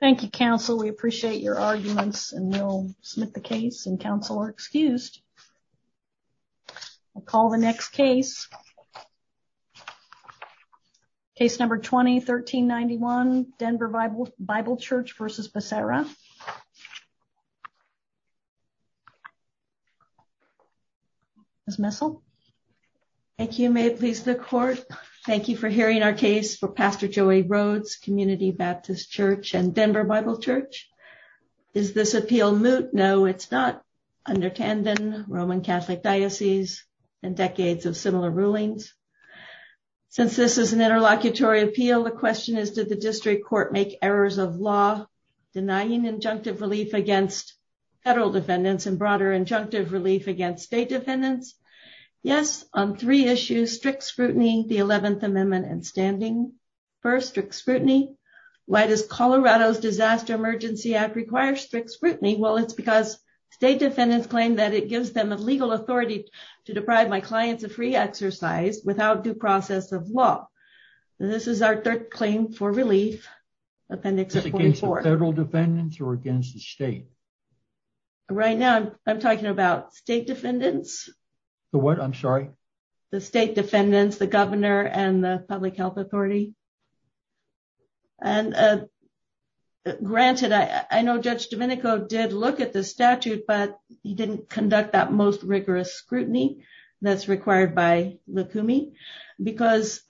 Thank You counsel we appreciate your arguments and we'll submit the case and counsel are excused. I'll call the next case. Case number 20 1391 Denver Bible Church v. Becerra. Ms. Messel. Thank you may it please the court. Thank you for me. Baptist Church and Denver Bible Church. Is this appeal moot? No, it's not under Tandon Roman Catholic Diocese and decades of similar rulings. Since this is an interlocutory appeal the question is did the district court make errors of law denying injunctive relief against federal defendants and broader injunctive relief against state defendants? Yes on three Why does Colorado's Disaster Emergency Act require strict scrutiny? Well, it's because state defendants claim that it gives them a legal authority to deprive my clients of free exercise without due process of law. This is our third claim for relief. Appendix 44. Federal defendants or against the state? Right now I'm talking about state defendants. What I'm sorry, the state defendants, the governor and the public health authority. And granted, I know Judge Domenico did look at the statute, but he didn't conduct that most rigorous scrutiny that's required by the Kumi because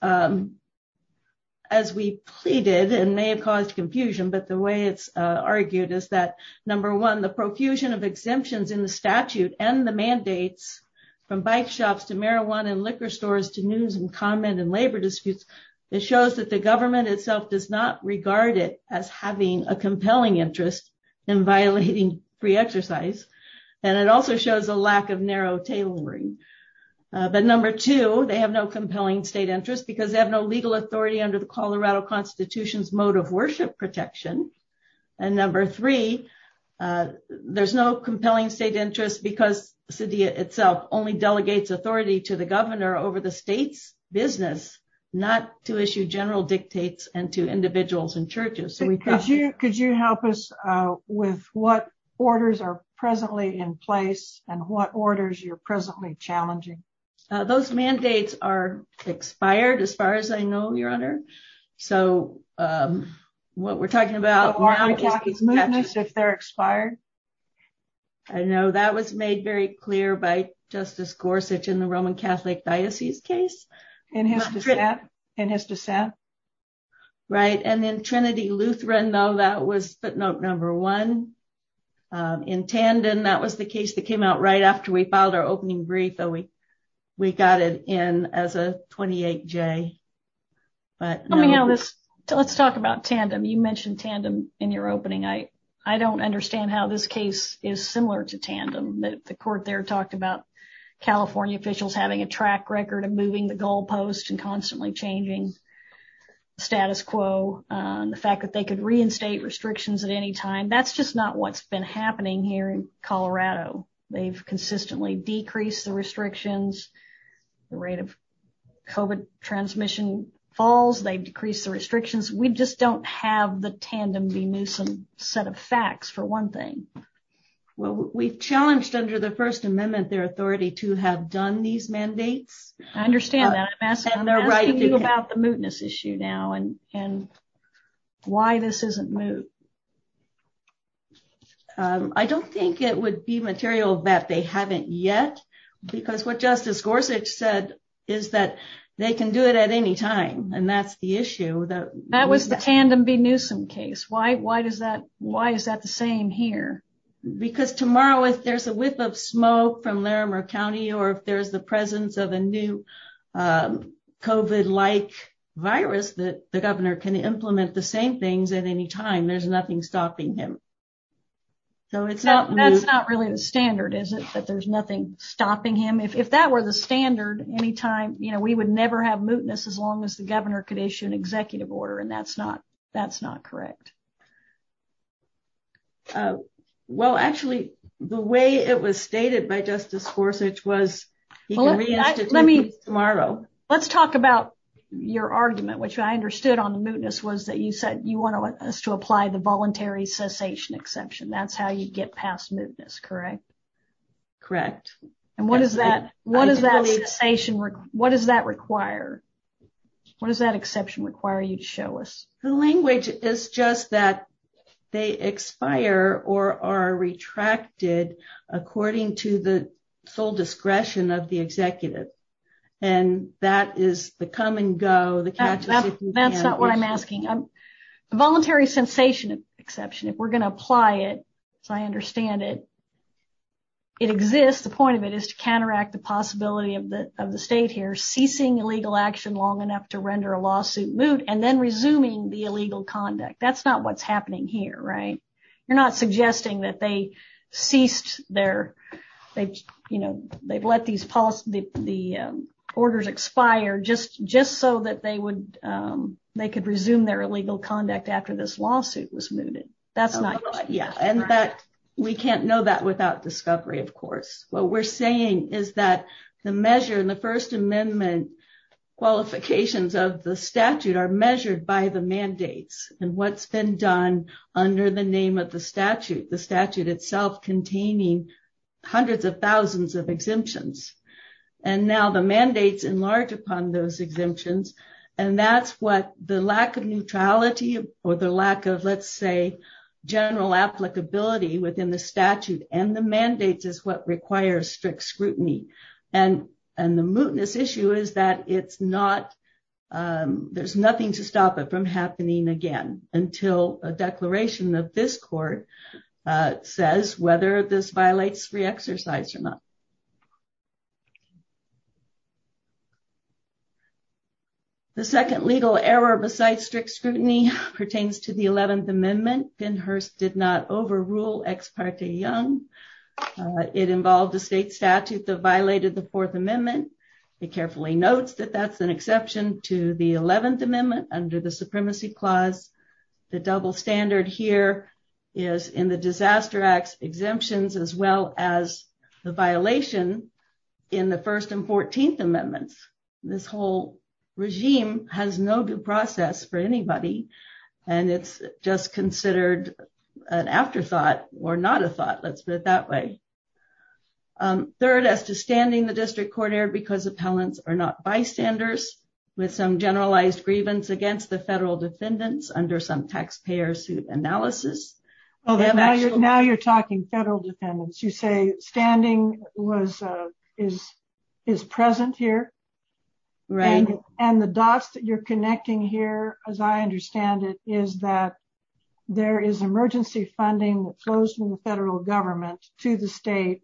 as we pleaded and may have caused confusion, but the way it's argued is that number one, the profusion of exemptions in the statute and the mandates from bike shops to marijuana and liquor stores to news and comment and labor disputes, it shows that the government itself does not regard it as having a compelling interest in violating free exercise. And it also shows a lack of narrow tailoring. But number two, they have no compelling state interest because they have no legal authority under the Colorado Constitution's mode of worship protection. And number three, there's no compelling state interest because the city itself only delegates authority to the governor over the state's business, not to issue general dictates and to individuals and churches. Could you help us with what orders are presently in place and what orders you're presently challenging? Those mandates are expired as far as I know, your honor. So what we're talking about is movements if they're expired. I know that was made very clear by Justice Gorsuch in the Roman Catholic Diocese case. In his dissent. Right. And then Trinity Lutheran, though, that was footnote number one. In tandem, that was the case that came out right after we filed our opening brief, we got it in as a 28-J. Let's talk about tandem. You mentioned tandem in your opening. I don't understand how this case is similar to tandem. The court there talked about California officials having a track record of moving the goalposts and constantly changing status quo. The fact that they could reinstate restrictions at any time. That's just not what's been happening here in Colorado. They've consistently decreased the restrictions. The rate of COVID transmission falls. They've decreased the restrictions. We just don't have the tandem set of facts for one thing. Well, we've challenged under the First Amendment, their authority to have done these mandates. I understand that. I'm asking you about the mootness issue now and why this isn't moot. Well, I don't think it would be material that they haven't yet. Because what Justice Gorsuch said is that they can do it at any time. And that's the issue that- That was the tandem B. Newsom case. Why is that the same here? Because tomorrow, if there's a whiff of smoke from Larimer County, or if there's the presence of a new COVID-like virus that the governor can implement the same things at any time, there's nothing stopping him. So it's not moot. That's not really the standard, is it? That there's nothing stopping him? If that were the standard, we would never have mootness as long as the governor could issue an executive order. And that's not correct. Well, actually, the way it was stated by Justice Gorsuch was he can reinstate this tomorrow. Let's talk about your argument, which I understood on the mootness was that you said you want us to apply the voluntary cessation exception. That's how you get past mootness, correct? Correct. And what does that- What does that require? What does that exception require you to show us? The language is just that they expire or are retracted according to the discretion of the executive. And that is the come and go. That's not what I'm asking. A voluntary cessation exception, if we're going to apply it, as I understand it, it exists. The point of it is to counteract the possibility of the state here ceasing illegal action long enough to render a lawsuit moot and then resuming the illegal conduct. That's not what's happening here, right? You're not suggesting that they ceased their, they've, you know, they've let these policies, the orders expire just so that they would, they could resume their illegal conduct after this lawsuit was mooted. That's not- Yeah. And that we can't know that without discovery, of course. What we're saying is that the measure in the First Amendment qualifications of the statute are measured by the mandates and what's been done under the name of the statute, the statute itself containing hundreds of thousands of exemptions. And now the mandates enlarge upon those exemptions. And that's what the lack of neutrality or the lack of, let's say, general applicability within the statute and the mandates is what requires strict scrutiny. And the mootness issue is that it's not, there's nothing to stop it from happening again until a declaration of this court says whether this violates free exercise or not. The second legal error besides strict scrutiny pertains to the 11th Amendment. Ben Hurst did not overrule Ex parte Young. It involved the state statute that violated the Fourth Amendment. It carefully notes that that's an exception to the 11th Amendment under the Supremacy Clause. The double standard here is in the Disaster Acts exemptions as well as the violation in the First and 14th Amendments. This whole regime has no due process for anybody and it's just considered an afterthought or not a thought. Let's put it that way. Third, as to standing the district court error because appellants are not bystanders with some generalized grievance against the federal defendants under some taxpayer suit analysis. Now you're talking federal defendants. You say standing is present here. And the dots that you're connecting here, as I understand it, is that there is emergency funding that flows from the federal government to the state.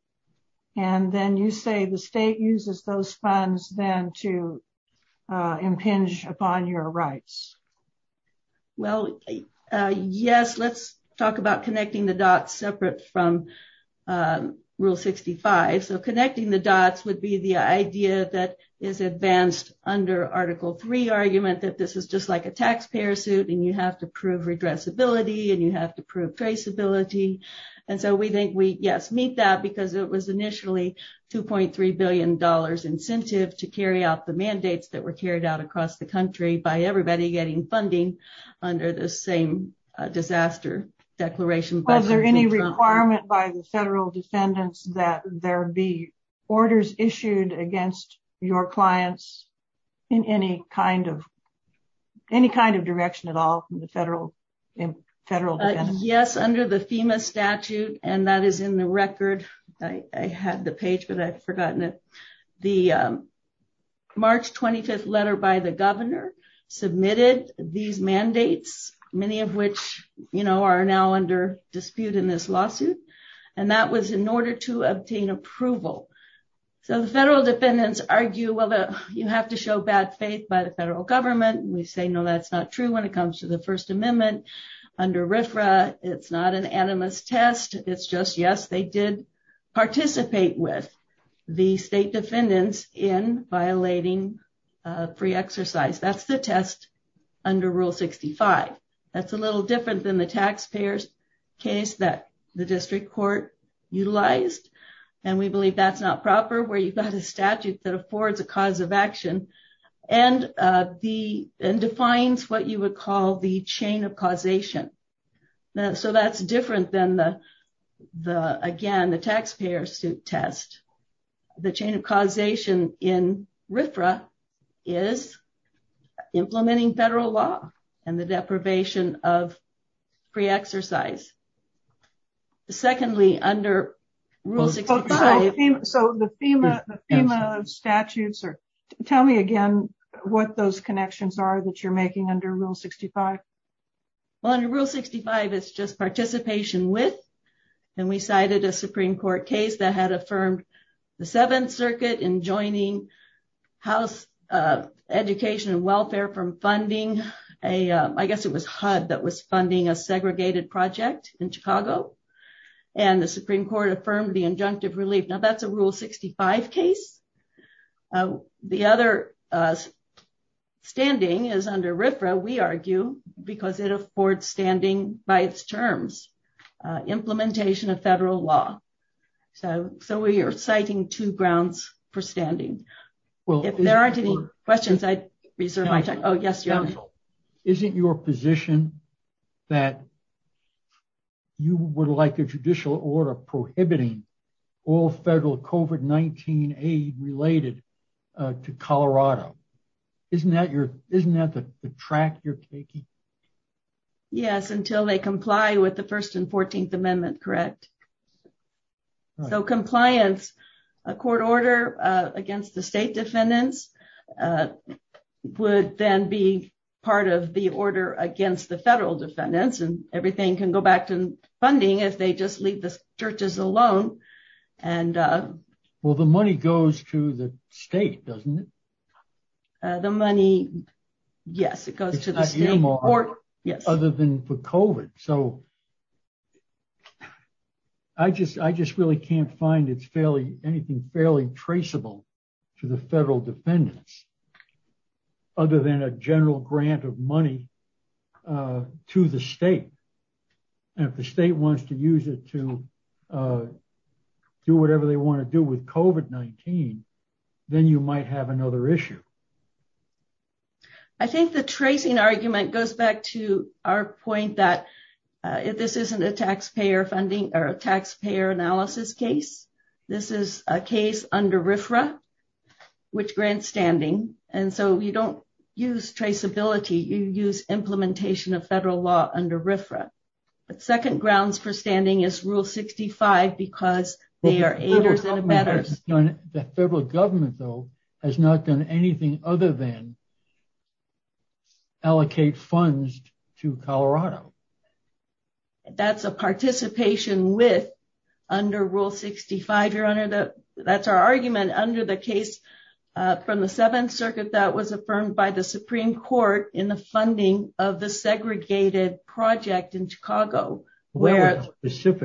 And then you say the state uses those funds then to impinge upon your rights. Well, yes. Let's talk about connecting the dots separate from Rule 65. So connecting the dots would be the idea that is advanced under Article 3 argument that this is just like a taxpayer suit and you have to prove redressability and you have to prove traceability. And so we think we, yes, meet that because it was initially $2.3 billion incentive to carry out the mandates that were carried out across the country by everybody getting funding under the same disaster declaration. Was there any requirement by the federal defendants that there be orders issued against your clients in any kind of direction at all from the federal defendants? Yes, under the FEMA statute. And that is in the record. I had the page, but I've forgotten it. The March 25th letter by the governor submitted these mandates, many of which are now under dispute in this lawsuit. And that was in order to obtain approval. So the federal defendants argue, well, you have to show bad faith by the federal government. We say, no, that's not true when it comes to the First Amendment. Under RFRA, it's not an animus test. It's just, yes, they did participate with the state defendants in violating free exercise. That's the test under Rule 65. That's a little different than the taxpayer's case that the district court utilized. And we believe that's not proper where you've got a statute that defines what you would call the chain of causation. So that's different than, again, the taxpayer suit test. The chain of causation in RFRA is implementing federal law and the deprivation of free exercise. Secondly, under Rule 65... So the FEMA statutes, tell me again what those connections are that you're making under Rule 65. Well, under Rule 65, it's just participation with. And we cited a Supreme Court case that had affirmed the Seventh Circuit in joining House Education and Welfare from funding a... I guess it was HUD that was funding a segregated project in Chicago. And the Supreme Court affirmed the standing is under RFRA, we argue, because it affords standing by its terms. Implementation of federal law. So we are citing two grounds for standing. If there aren't any questions, I reserve my time. Oh, yes, Your Honor. Is it your position that you would like a judicial order prohibiting all federal COVID-19 aid related to Colorado? Isn't that the track you're taking? Yes, until they comply with the First and Fourteenth Amendment, correct. So compliance, a court order against the state defendants would then be part of the order against the federal defendants and everything can go back to funding if they just leave the churches alone. Well, the money goes to the state, doesn't it? The money, yes, it goes to the state court. Yes. Other than for COVID. So I just really can't find anything fairly traceable to the federal defendants other than a general grant of money to the state. And if the state wants to use it to do whatever they want to do with COVID-19, then you might have another issue. I think the tracing argument goes back to our point that this isn't a taxpayer funding or taxpayer analysis case. This is a case under RFRA, which grants standing. And so you don't use traceability. You use implementation of federal law under RFRA. The second grounds for standing is Rule 65 because they are aiders and abettors. The federal government, though, has not done anything other than allocate funds to Colorado. That's a participation with under Rule 65. That's our argument under the case from the Seventh Circuit that was affirmed by the That was a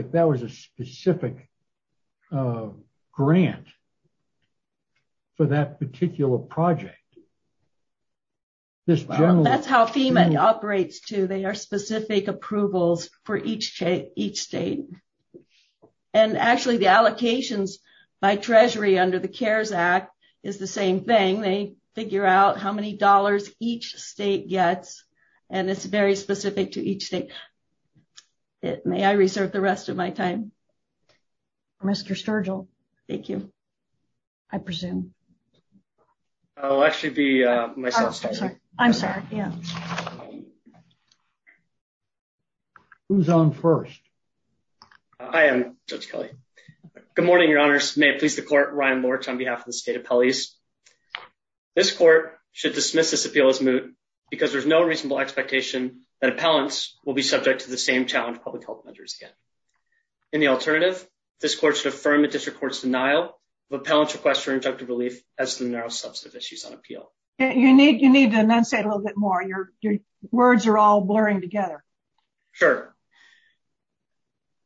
specific grant for that particular project. That's how FEMA operates, too. They are specific approvals for each state. And actually, the allocations by Treasury under the CARES Act is the same thing. They figure out how many dollars each state gets. And it's very specific to each state. May I reserve the rest of my time? Mr. Sturgill. Thank you. I presume. I'll actually be myself. I'm sorry. Yeah. Who's on first? I am, Judge Kelly. Good morning, Your Honors. May it please the court, dismiss this appeal as moot because there's no reasonable expectation that appellants will be subject to the same challenge public health measures get. In the alternative, this court should affirm the district court's denial of appellant's request for injunctive relief as to the narrow substantive issues on appeal. You need to enunciate a little bit more. Your words are all blurring together. Sure.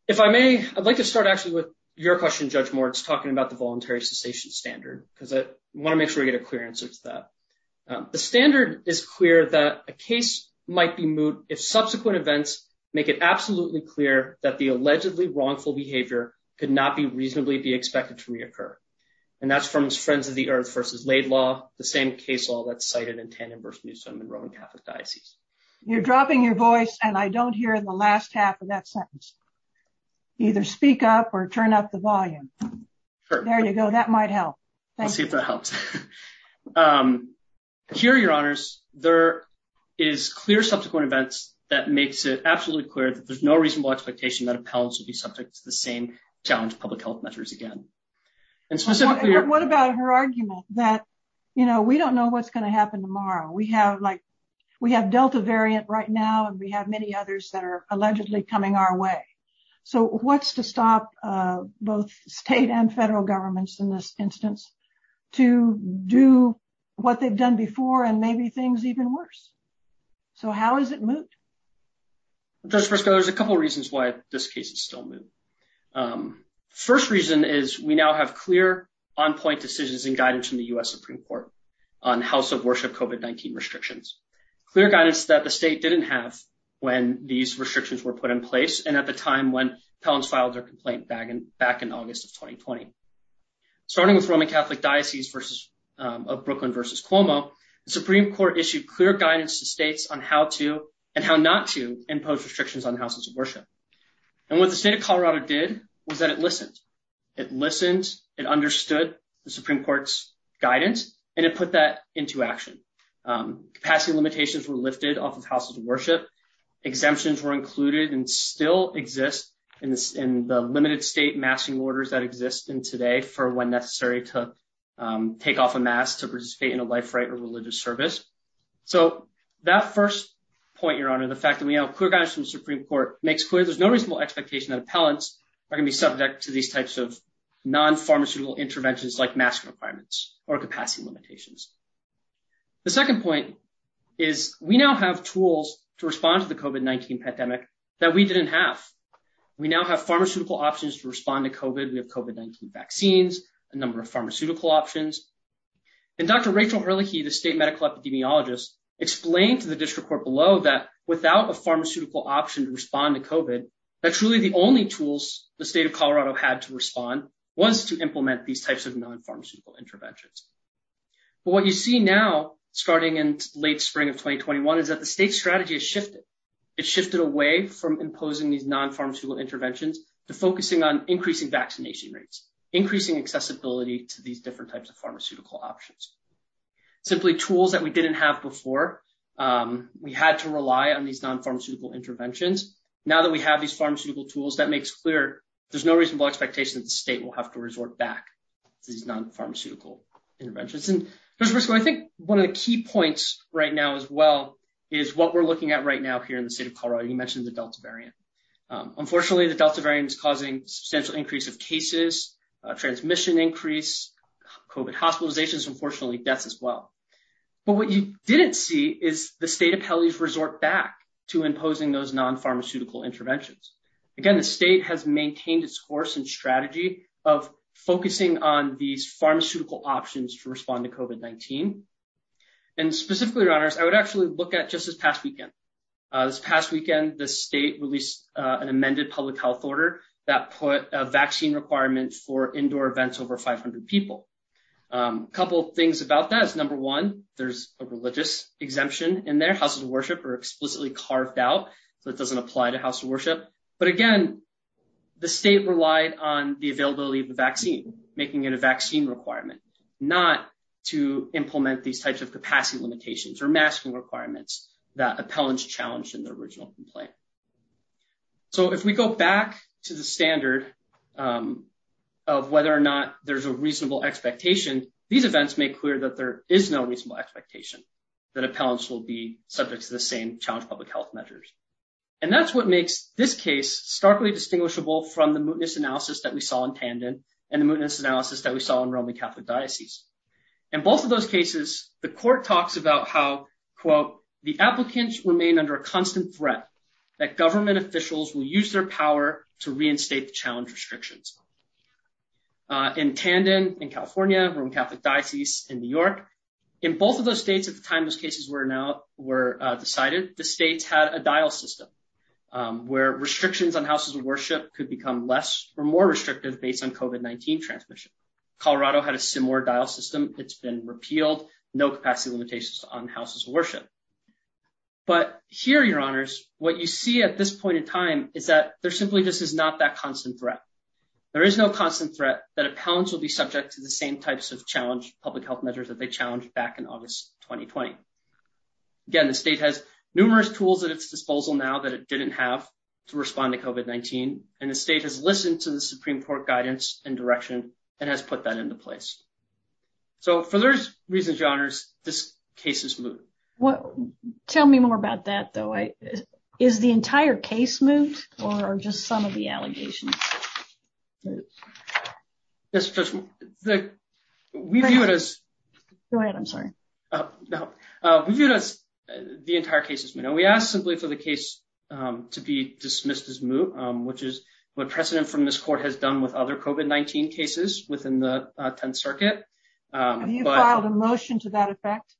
If I may, I'd like to start actually with your question, Judge Moritz, talking about the voluntary cessation standard because I want to make sure we get a clear answer to that. The standard is clear that a case might be moot if subsequent events make it absolutely clear that the allegedly wrongful behavior could not be reasonably be expected to reoccur. And that's from Friends of the Earth versus Laidlaw, the same case law that's cited in Tannen versus Newsom in Roman Catholic Diocese. You're dropping your voice and I don't hear in the last half of that sentence. Either speak up or turn up the volume. There you go. That might help. Let's see if that helps. Here, Your Honors, there is clear subsequent events that makes it absolutely clear that there's no reasonable expectation that appellants would be subject to the same challenge of public health measures again. And specifically... What about her argument that, you know, we don't know what's going to happen tomorrow? We have Delta variant right now and we have many others that are allegedly coming our way. So what's to to do what they've done before and maybe things even worse? So how is it moot? Justice Briscoe, there's a couple reasons why this case is still moot. First reason is we now have clear on-point decisions and guidance from the U.S. Supreme Court on House of Worship COVID-19 restrictions. Clear guidance that the state didn't have when these restrictions were put in place and at the time when Catholic Diocese of Brooklyn v. Cuomo, the Supreme Court issued clear guidance to states on how to and how not to impose restrictions on houses of worship. And what the state of Colorado did was that it listened. It listened, it understood the Supreme Court's guidance, and it put that into action. Capacity limitations were lifted off of houses of worship. Exemptions were included and still exist in the limited state masking orders that exist in today for when necessary to take off a mask to participate in a life right or religious service. So that first point, Your Honor, the fact that we have clear guidance from the Supreme Court makes clear there's no reasonable expectation that appellants are going to be subject to these types of non-pharmaceutical interventions like mask requirements or capacity limitations. The second point is we now have tools to respond to the COVID-19 pandemic that we didn't have. We now have pharmaceutical options to respond to COVID. We have COVID-19 vaccines, a number of pharmaceutical options. And Dr. Rachel Ehrlich, the state medical epidemiologist, explained to the district court below that without a pharmaceutical option to respond to COVID, that's really the only tools the state of Colorado had to respond was to implement these types of non-pharmaceutical interventions. But what you see now starting in late spring of 2021 is that state strategy has shifted. It shifted away from imposing these non-pharmaceutical interventions to focusing on increasing vaccination rates, increasing accessibility to these different types of pharmaceutical options. Simply tools that we didn't have before, we had to rely on these non-pharmaceutical interventions. Now that we have these pharmaceutical tools, that makes clear there's no reasonable expectation that the state will have to resort back to these non-pharmaceutical interventions. And I think one of the key points right now as well is what we're looking at right now here in the state of Colorado. You mentioned the Delta variant. Unfortunately, the Delta variant is causing substantial increase of cases, transmission increase, COVID hospitalizations, unfortunately deaths as well. But what you didn't see is the state of Pelley's resort back to imposing those non-pharmaceutical interventions. Again, the state has maintained its course and focusing on these pharmaceutical options to respond to COVID-19. And specifically, your honors, I would actually look at just this past weekend. This past weekend, the state released an amended public health order that put a vaccine requirement for indoor events over 500 people. A couple of things about that is, number one, there's a religious exemption in there. Houses of worship are explicitly carved out, so it doesn't apply to house of worship. But again, the state relied on the availability of the vaccine, making it a vaccine requirement, not to implement these types of capacity limitations or masking requirements that appellants challenged in the original complaint. So if we go back to the standard of whether or not there's a reasonable expectation, these events make clear that there is no reasonable expectation that appellants will be subject to the same challenge public health measures. And that's what makes this case starkly distinguishable from the mootness analysis that we saw in Tandon and the mootness analysis that we saw in Roman Catholic Diocese. In both of those cases, the court talks about how, quote, the applicants remain under a constant threat that government officials will use their power to reinstate the challenge restrictions. In Tandon in California, Roman Catholic Diocese in New York, in both of those states at the time cases were decided, the states had a dial system where restrictions on houses of worship could become less or more restrictive based on COVID-19 transmission. Colorado had a similar dial system. It's been repealed. No capacity limitations on houses of worship. But here, Your Honors, what you see at this point in time is that there simply just is not that constant threat. There is no constant threat that appellants will be subject to the same types of challenge public health measures that they challenged back in August 2020. Again, the state has numerous tools at its disposal now that it didn't have to respond to COVID-19. And the state has listened to the Supreme Court guidance and direction and has put that into place. So for those reasons, Your Honors, this case is moot. Well, tell me more about that, though. Is the entire case moot or just some of the allegations? Go ahead, I'm sorry. We viewed it as the entire case is moot. We asked simply for the case to be dismissed as moot, which is what precedent from this court has done with other COVID-19 cases within the Tenth Circuit. Have you filed a motion to that effect?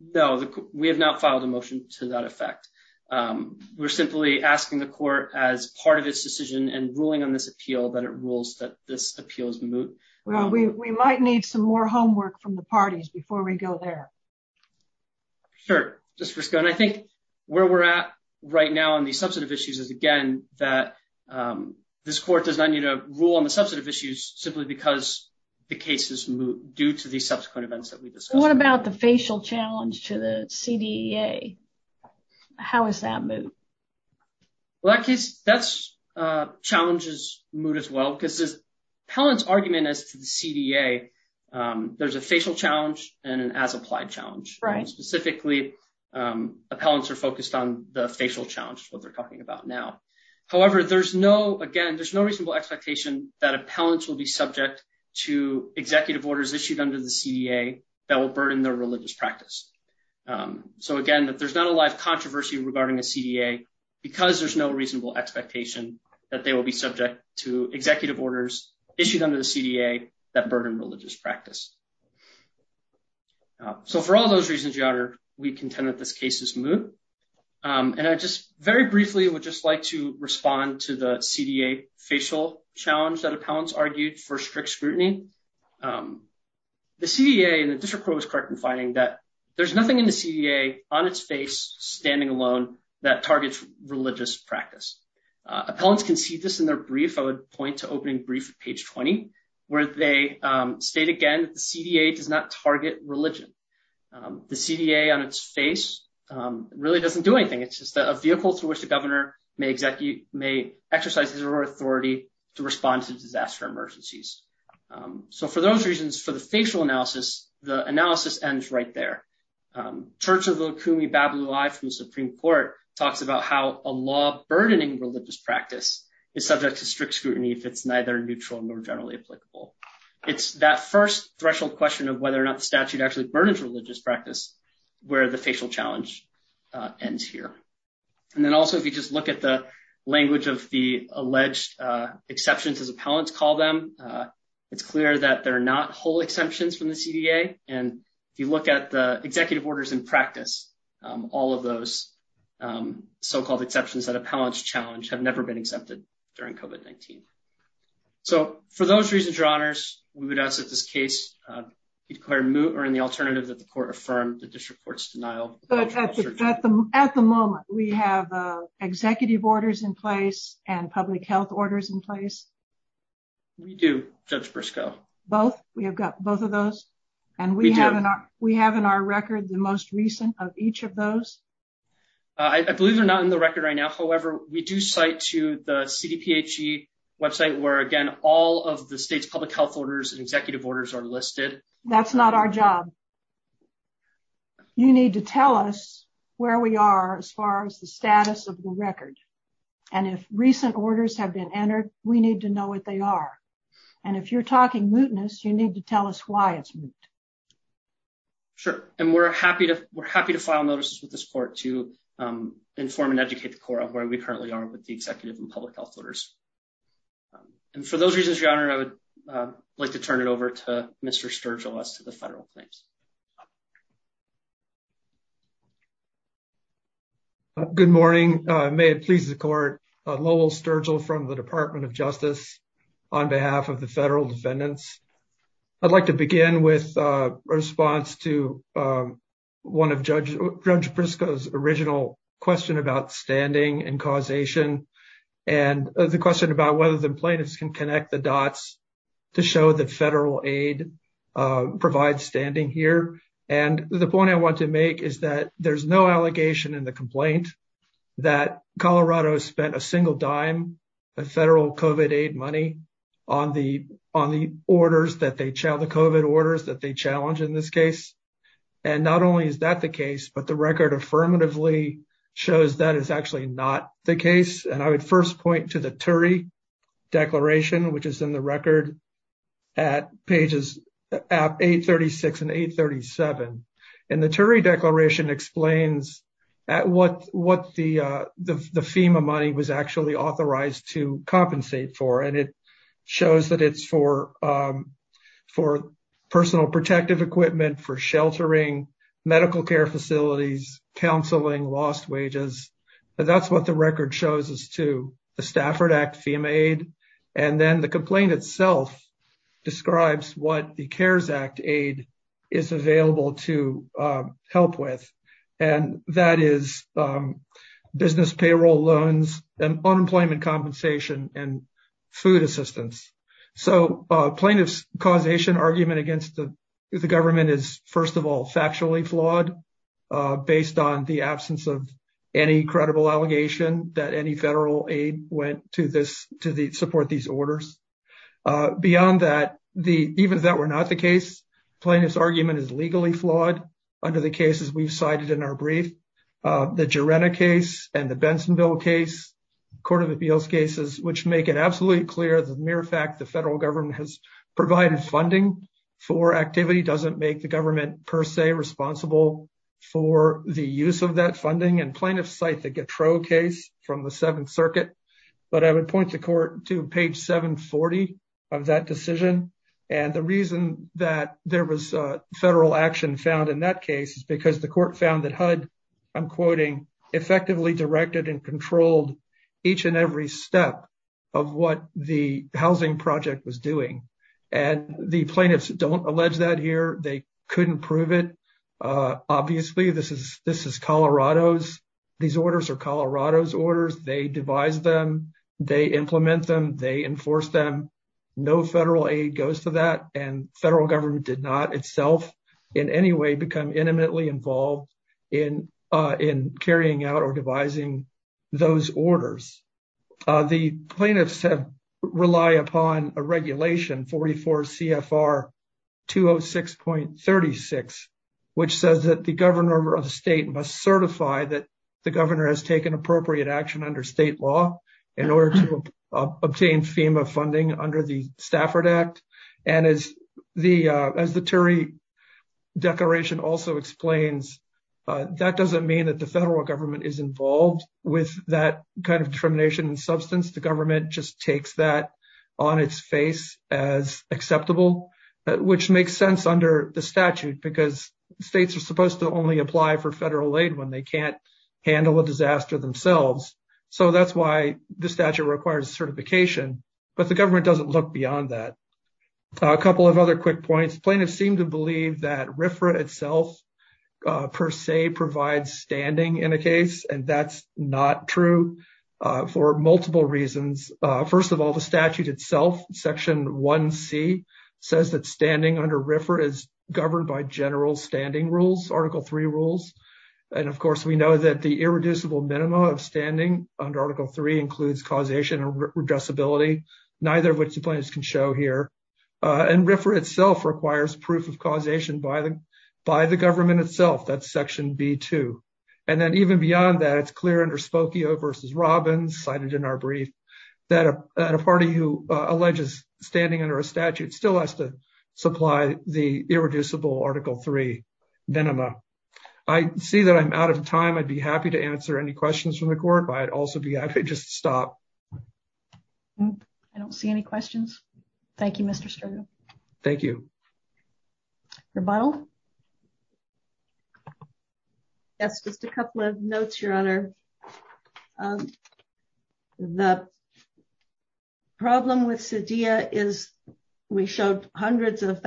No, we have not filed a motion to that ruling on this appeal that it rules that this appeal is moot. Well, we might need some more homework from the parties before we go there. Sure. I think where we're at right now on the substantive issues is again that this court does not need to rule on the substantive issues simply because the case is moot due to the subsequent events that we discussed. What about the facial challenge to the CDEA? How is that moot? Well, that case, that challenge is moot as well because this appellant's argument as to the CDEA, there's a facial challenge and an as-applied challenge. Specifically, appellants are focused on the facial challenge, what they're talking about now. However, there's no, again, there's no reasonable expectation that appellants will be subject to executive orders issued under the CDEA that will burden their religious practice. So again, that there's not a lot of controversy regarding the CDEA because there's no reasonable expectation that they will be subject to executive orders issued under the CDEA that burden religious practice. So for all those reasons, Your Honor, we contend that this case is moot. And I just very briefly would just like to respond to the CDEA facial challenge that appellants argued for scrutiny. The CDEA and the district court was correct in finding that there's nothing in the CDEA on its face standing alone that targets religious practice. Appellants can see this in their brief. I would point to opening brief at page 20, where they state again that the CDEA does not target religion. The CDEA on its face really doesn't do anything. It's just a vehicle through which the governor may exercise his or her authority to respond to disaster emergencies. So for those reasons, for the facial analysis, the analysis ends right there. Church of Okumi Babalui from the Supreme Court talks about how a law burdening religious practice is subject to strict scrutiny if it's neither neutral nor generally applicable. It's that first threshold question of whether or not the statute actually burdens religious practice where the facial challenge ends here. And then also, if you just look at the alleged exceptions as appellants call them, it's clear that they're not whole exemptions from the CDEA. And if you look at the executive orders in practice, all of those so-called exceptions that appellants challenge have never been accepted during COVID-19. So for those reasons, Your Honors, we would ask that this case be declared moot or in the alternative that the court affirmed the district court's denial. But at the moment, we have executive orders in place and public health orders in place? We do, Judge Briscoe. Both? We have got both of those? And we have in our record the most recent of each of those? I believe they're not in the record right now. However, we do cite to the CDPHE website where, again, all of the state's public health orders and executive orders are in place. You need to tell us where we are as far as the status of the record. And if recent orders have been entered, we need to know what they are. And if you're talking mootness, you need to tell us why it's moot. Sure. And we're happy to file notices with this court to inform and educate the court on where we currently are with the executive and public health orders. And for those reasons, Your Honor, I would like to turn it over to Mr. Sturgill as the federal plaintiffs. Good morning. May it please the court. Lowell Sturgill from the Department of Justice on behalf of the federal defendants. I'd like to begin with a response to one of Judge Briscoe's original question about standing and causation and the question about whether the plaintiffs can connect the dots to show that federal aid provides standing here. And the point I want to make is that there's no allegation in the complaint that Colorado spent a single dime of federal COVID aid money on the COVID orders that they challenged in this case. And not only is that the case, but the record affirmatively shows that is actually not the case. And I would first point to the TURI declaration, which is in the record at pages 836 and 837. And the TURI declaration explains what the FEMA money was actually authorized to compensate for. And it shows that it's for personal protective equipment, for sheltering, medical care facilities, counseling, lost wages. That's what the record shows is to the Stafford Act FEMA aid. And then the complaint itself describes what the CARES Act aid is available to help with. And that is business payroll loans and unemployment compensation and food assistance. So plaintiff's causation argument against the government is first of all, factually flawed based on the absence of any credible allegation that any federal aid went to support these orders. Beyond that, even if that were not the case, plaintiff's argument is legally flawed under the cases we've cited in our brief. The Jarena case and the Bensonville case, Court of Appeals cases, which make it absolutely clear mere fact the federal government has provided funding for activity doesn't make the government per se responsible for the use of that funding. And plaintiffs cite the Gautreaux case from the Seventh Circuit. But I would point the court to page 740 of that decision. And the reason that there was federal action found in that case is because the court found that HUD, I'm quoting, effectively directed and controlled each and every step of what the housing project was doing. And the plaintiffs don't allege that here. They couldn't prove it. Obviously, this is Colorado's. These orders are Colorado's orders. They devised them. They implement them. They enforce them. No federal aid goes to that. And federal government did not itself in any way become intimately involved in carrying out or devising those orders. The plaintiffs have relied upon a regulation, 44 CFR 206.36, which says that the governor of a state must certify that the governor has taken appropriate action under state law in order to obtain FEMA funding under the Stafford Act. And as the Turey Declaration also explains, that doesn't mean that the federal government is involved with that kind of determination and substance. The government just takes that on its face as acceptable, which makes sense under the statute because states are supposed to only apply for federal aid when they can't handle a disaster themselves. So that's why the statute requires certification, but the government doesn't look beyond that. A couple of other quick points. Plaintiffs seem to believe that RFRA itself per se provides standing in a case, and that's not true for multiple reasons. First of all, the statute itself, Section 1C, says that standing under RFRA is governed by general standing rules, Article 3 rules. And of course, we know that the irreducible minima of standing under Article 3 includes causation and redressability, neither of which the plaintiffs can show here. And RFRA itself requires proof of causation by the government itself, that's Section B2. And then even beyond that, it's clear under Spokio v. Robbins, cited in our brief, that a party who I see that I'm out of time, I'd be happy to answer any questions from the court, but I'd also be happy to just stop. I don't see any questions. Thank you, Mr. Sturgill. Thank you. Rebuttal? Yes, just a couple of notes, Your Honor. The problem with CEDEA is we showed hundreds of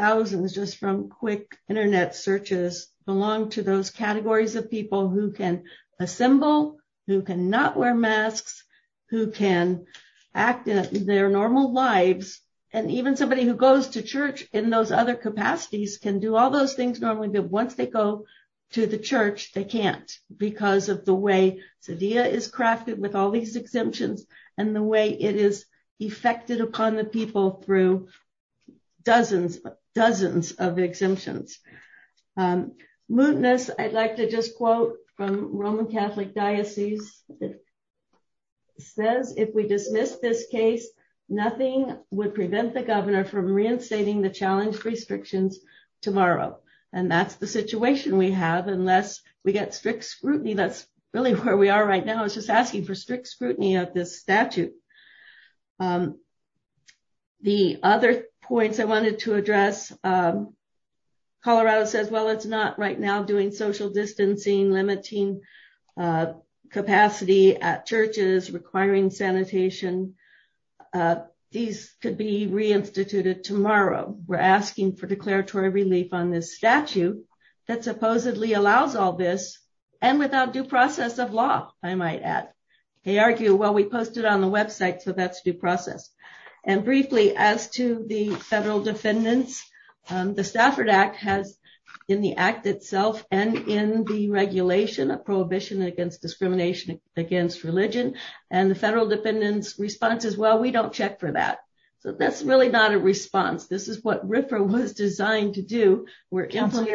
searches belong to those categories of people who can assemble, who cannot wear masks, who can act in their normal lives, and even somebody who goes to church in those other capacities can do all those things normally, but once they go to the church, they can't because of the way CEDEA is crafted with all these exemptions and the way it is effected upon the people through dozens of exemptions. Mutinous, I'd like to just quote from Roman Catholic Diocese, says, if we dismiss this case, nothing would prevent the governor from reinstating the challenge restrictions tomorrow. And that's the situation we have unless we get strict scrutiny. That's really where we are right now is just asking for strict scrutiny of this statute. The other points I wanted to address, Colorado says, well, it's not right now doing social distancing, limiting capacity at churches, requiring sanitation. These could be reinstituted tomorrow. We're asking for declaratory relief on this statute that supposedly allows all this and without due process of law, I might add. They argue, well, we posted on the website, so that's due process. And briefly as to the federal defendants, the Stafford Act has in the act itself and in the regulation of prohibition against discrimination against religion and the federal defendants' responses, well, we don't check for that. So that's really not a response. This is what RFRA was designed to do. Council,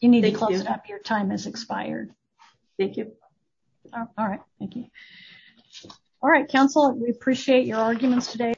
you need to close it up. Your time has expired. Thank you. All right. Thank you. All right. Council, we appreciate your arguments today.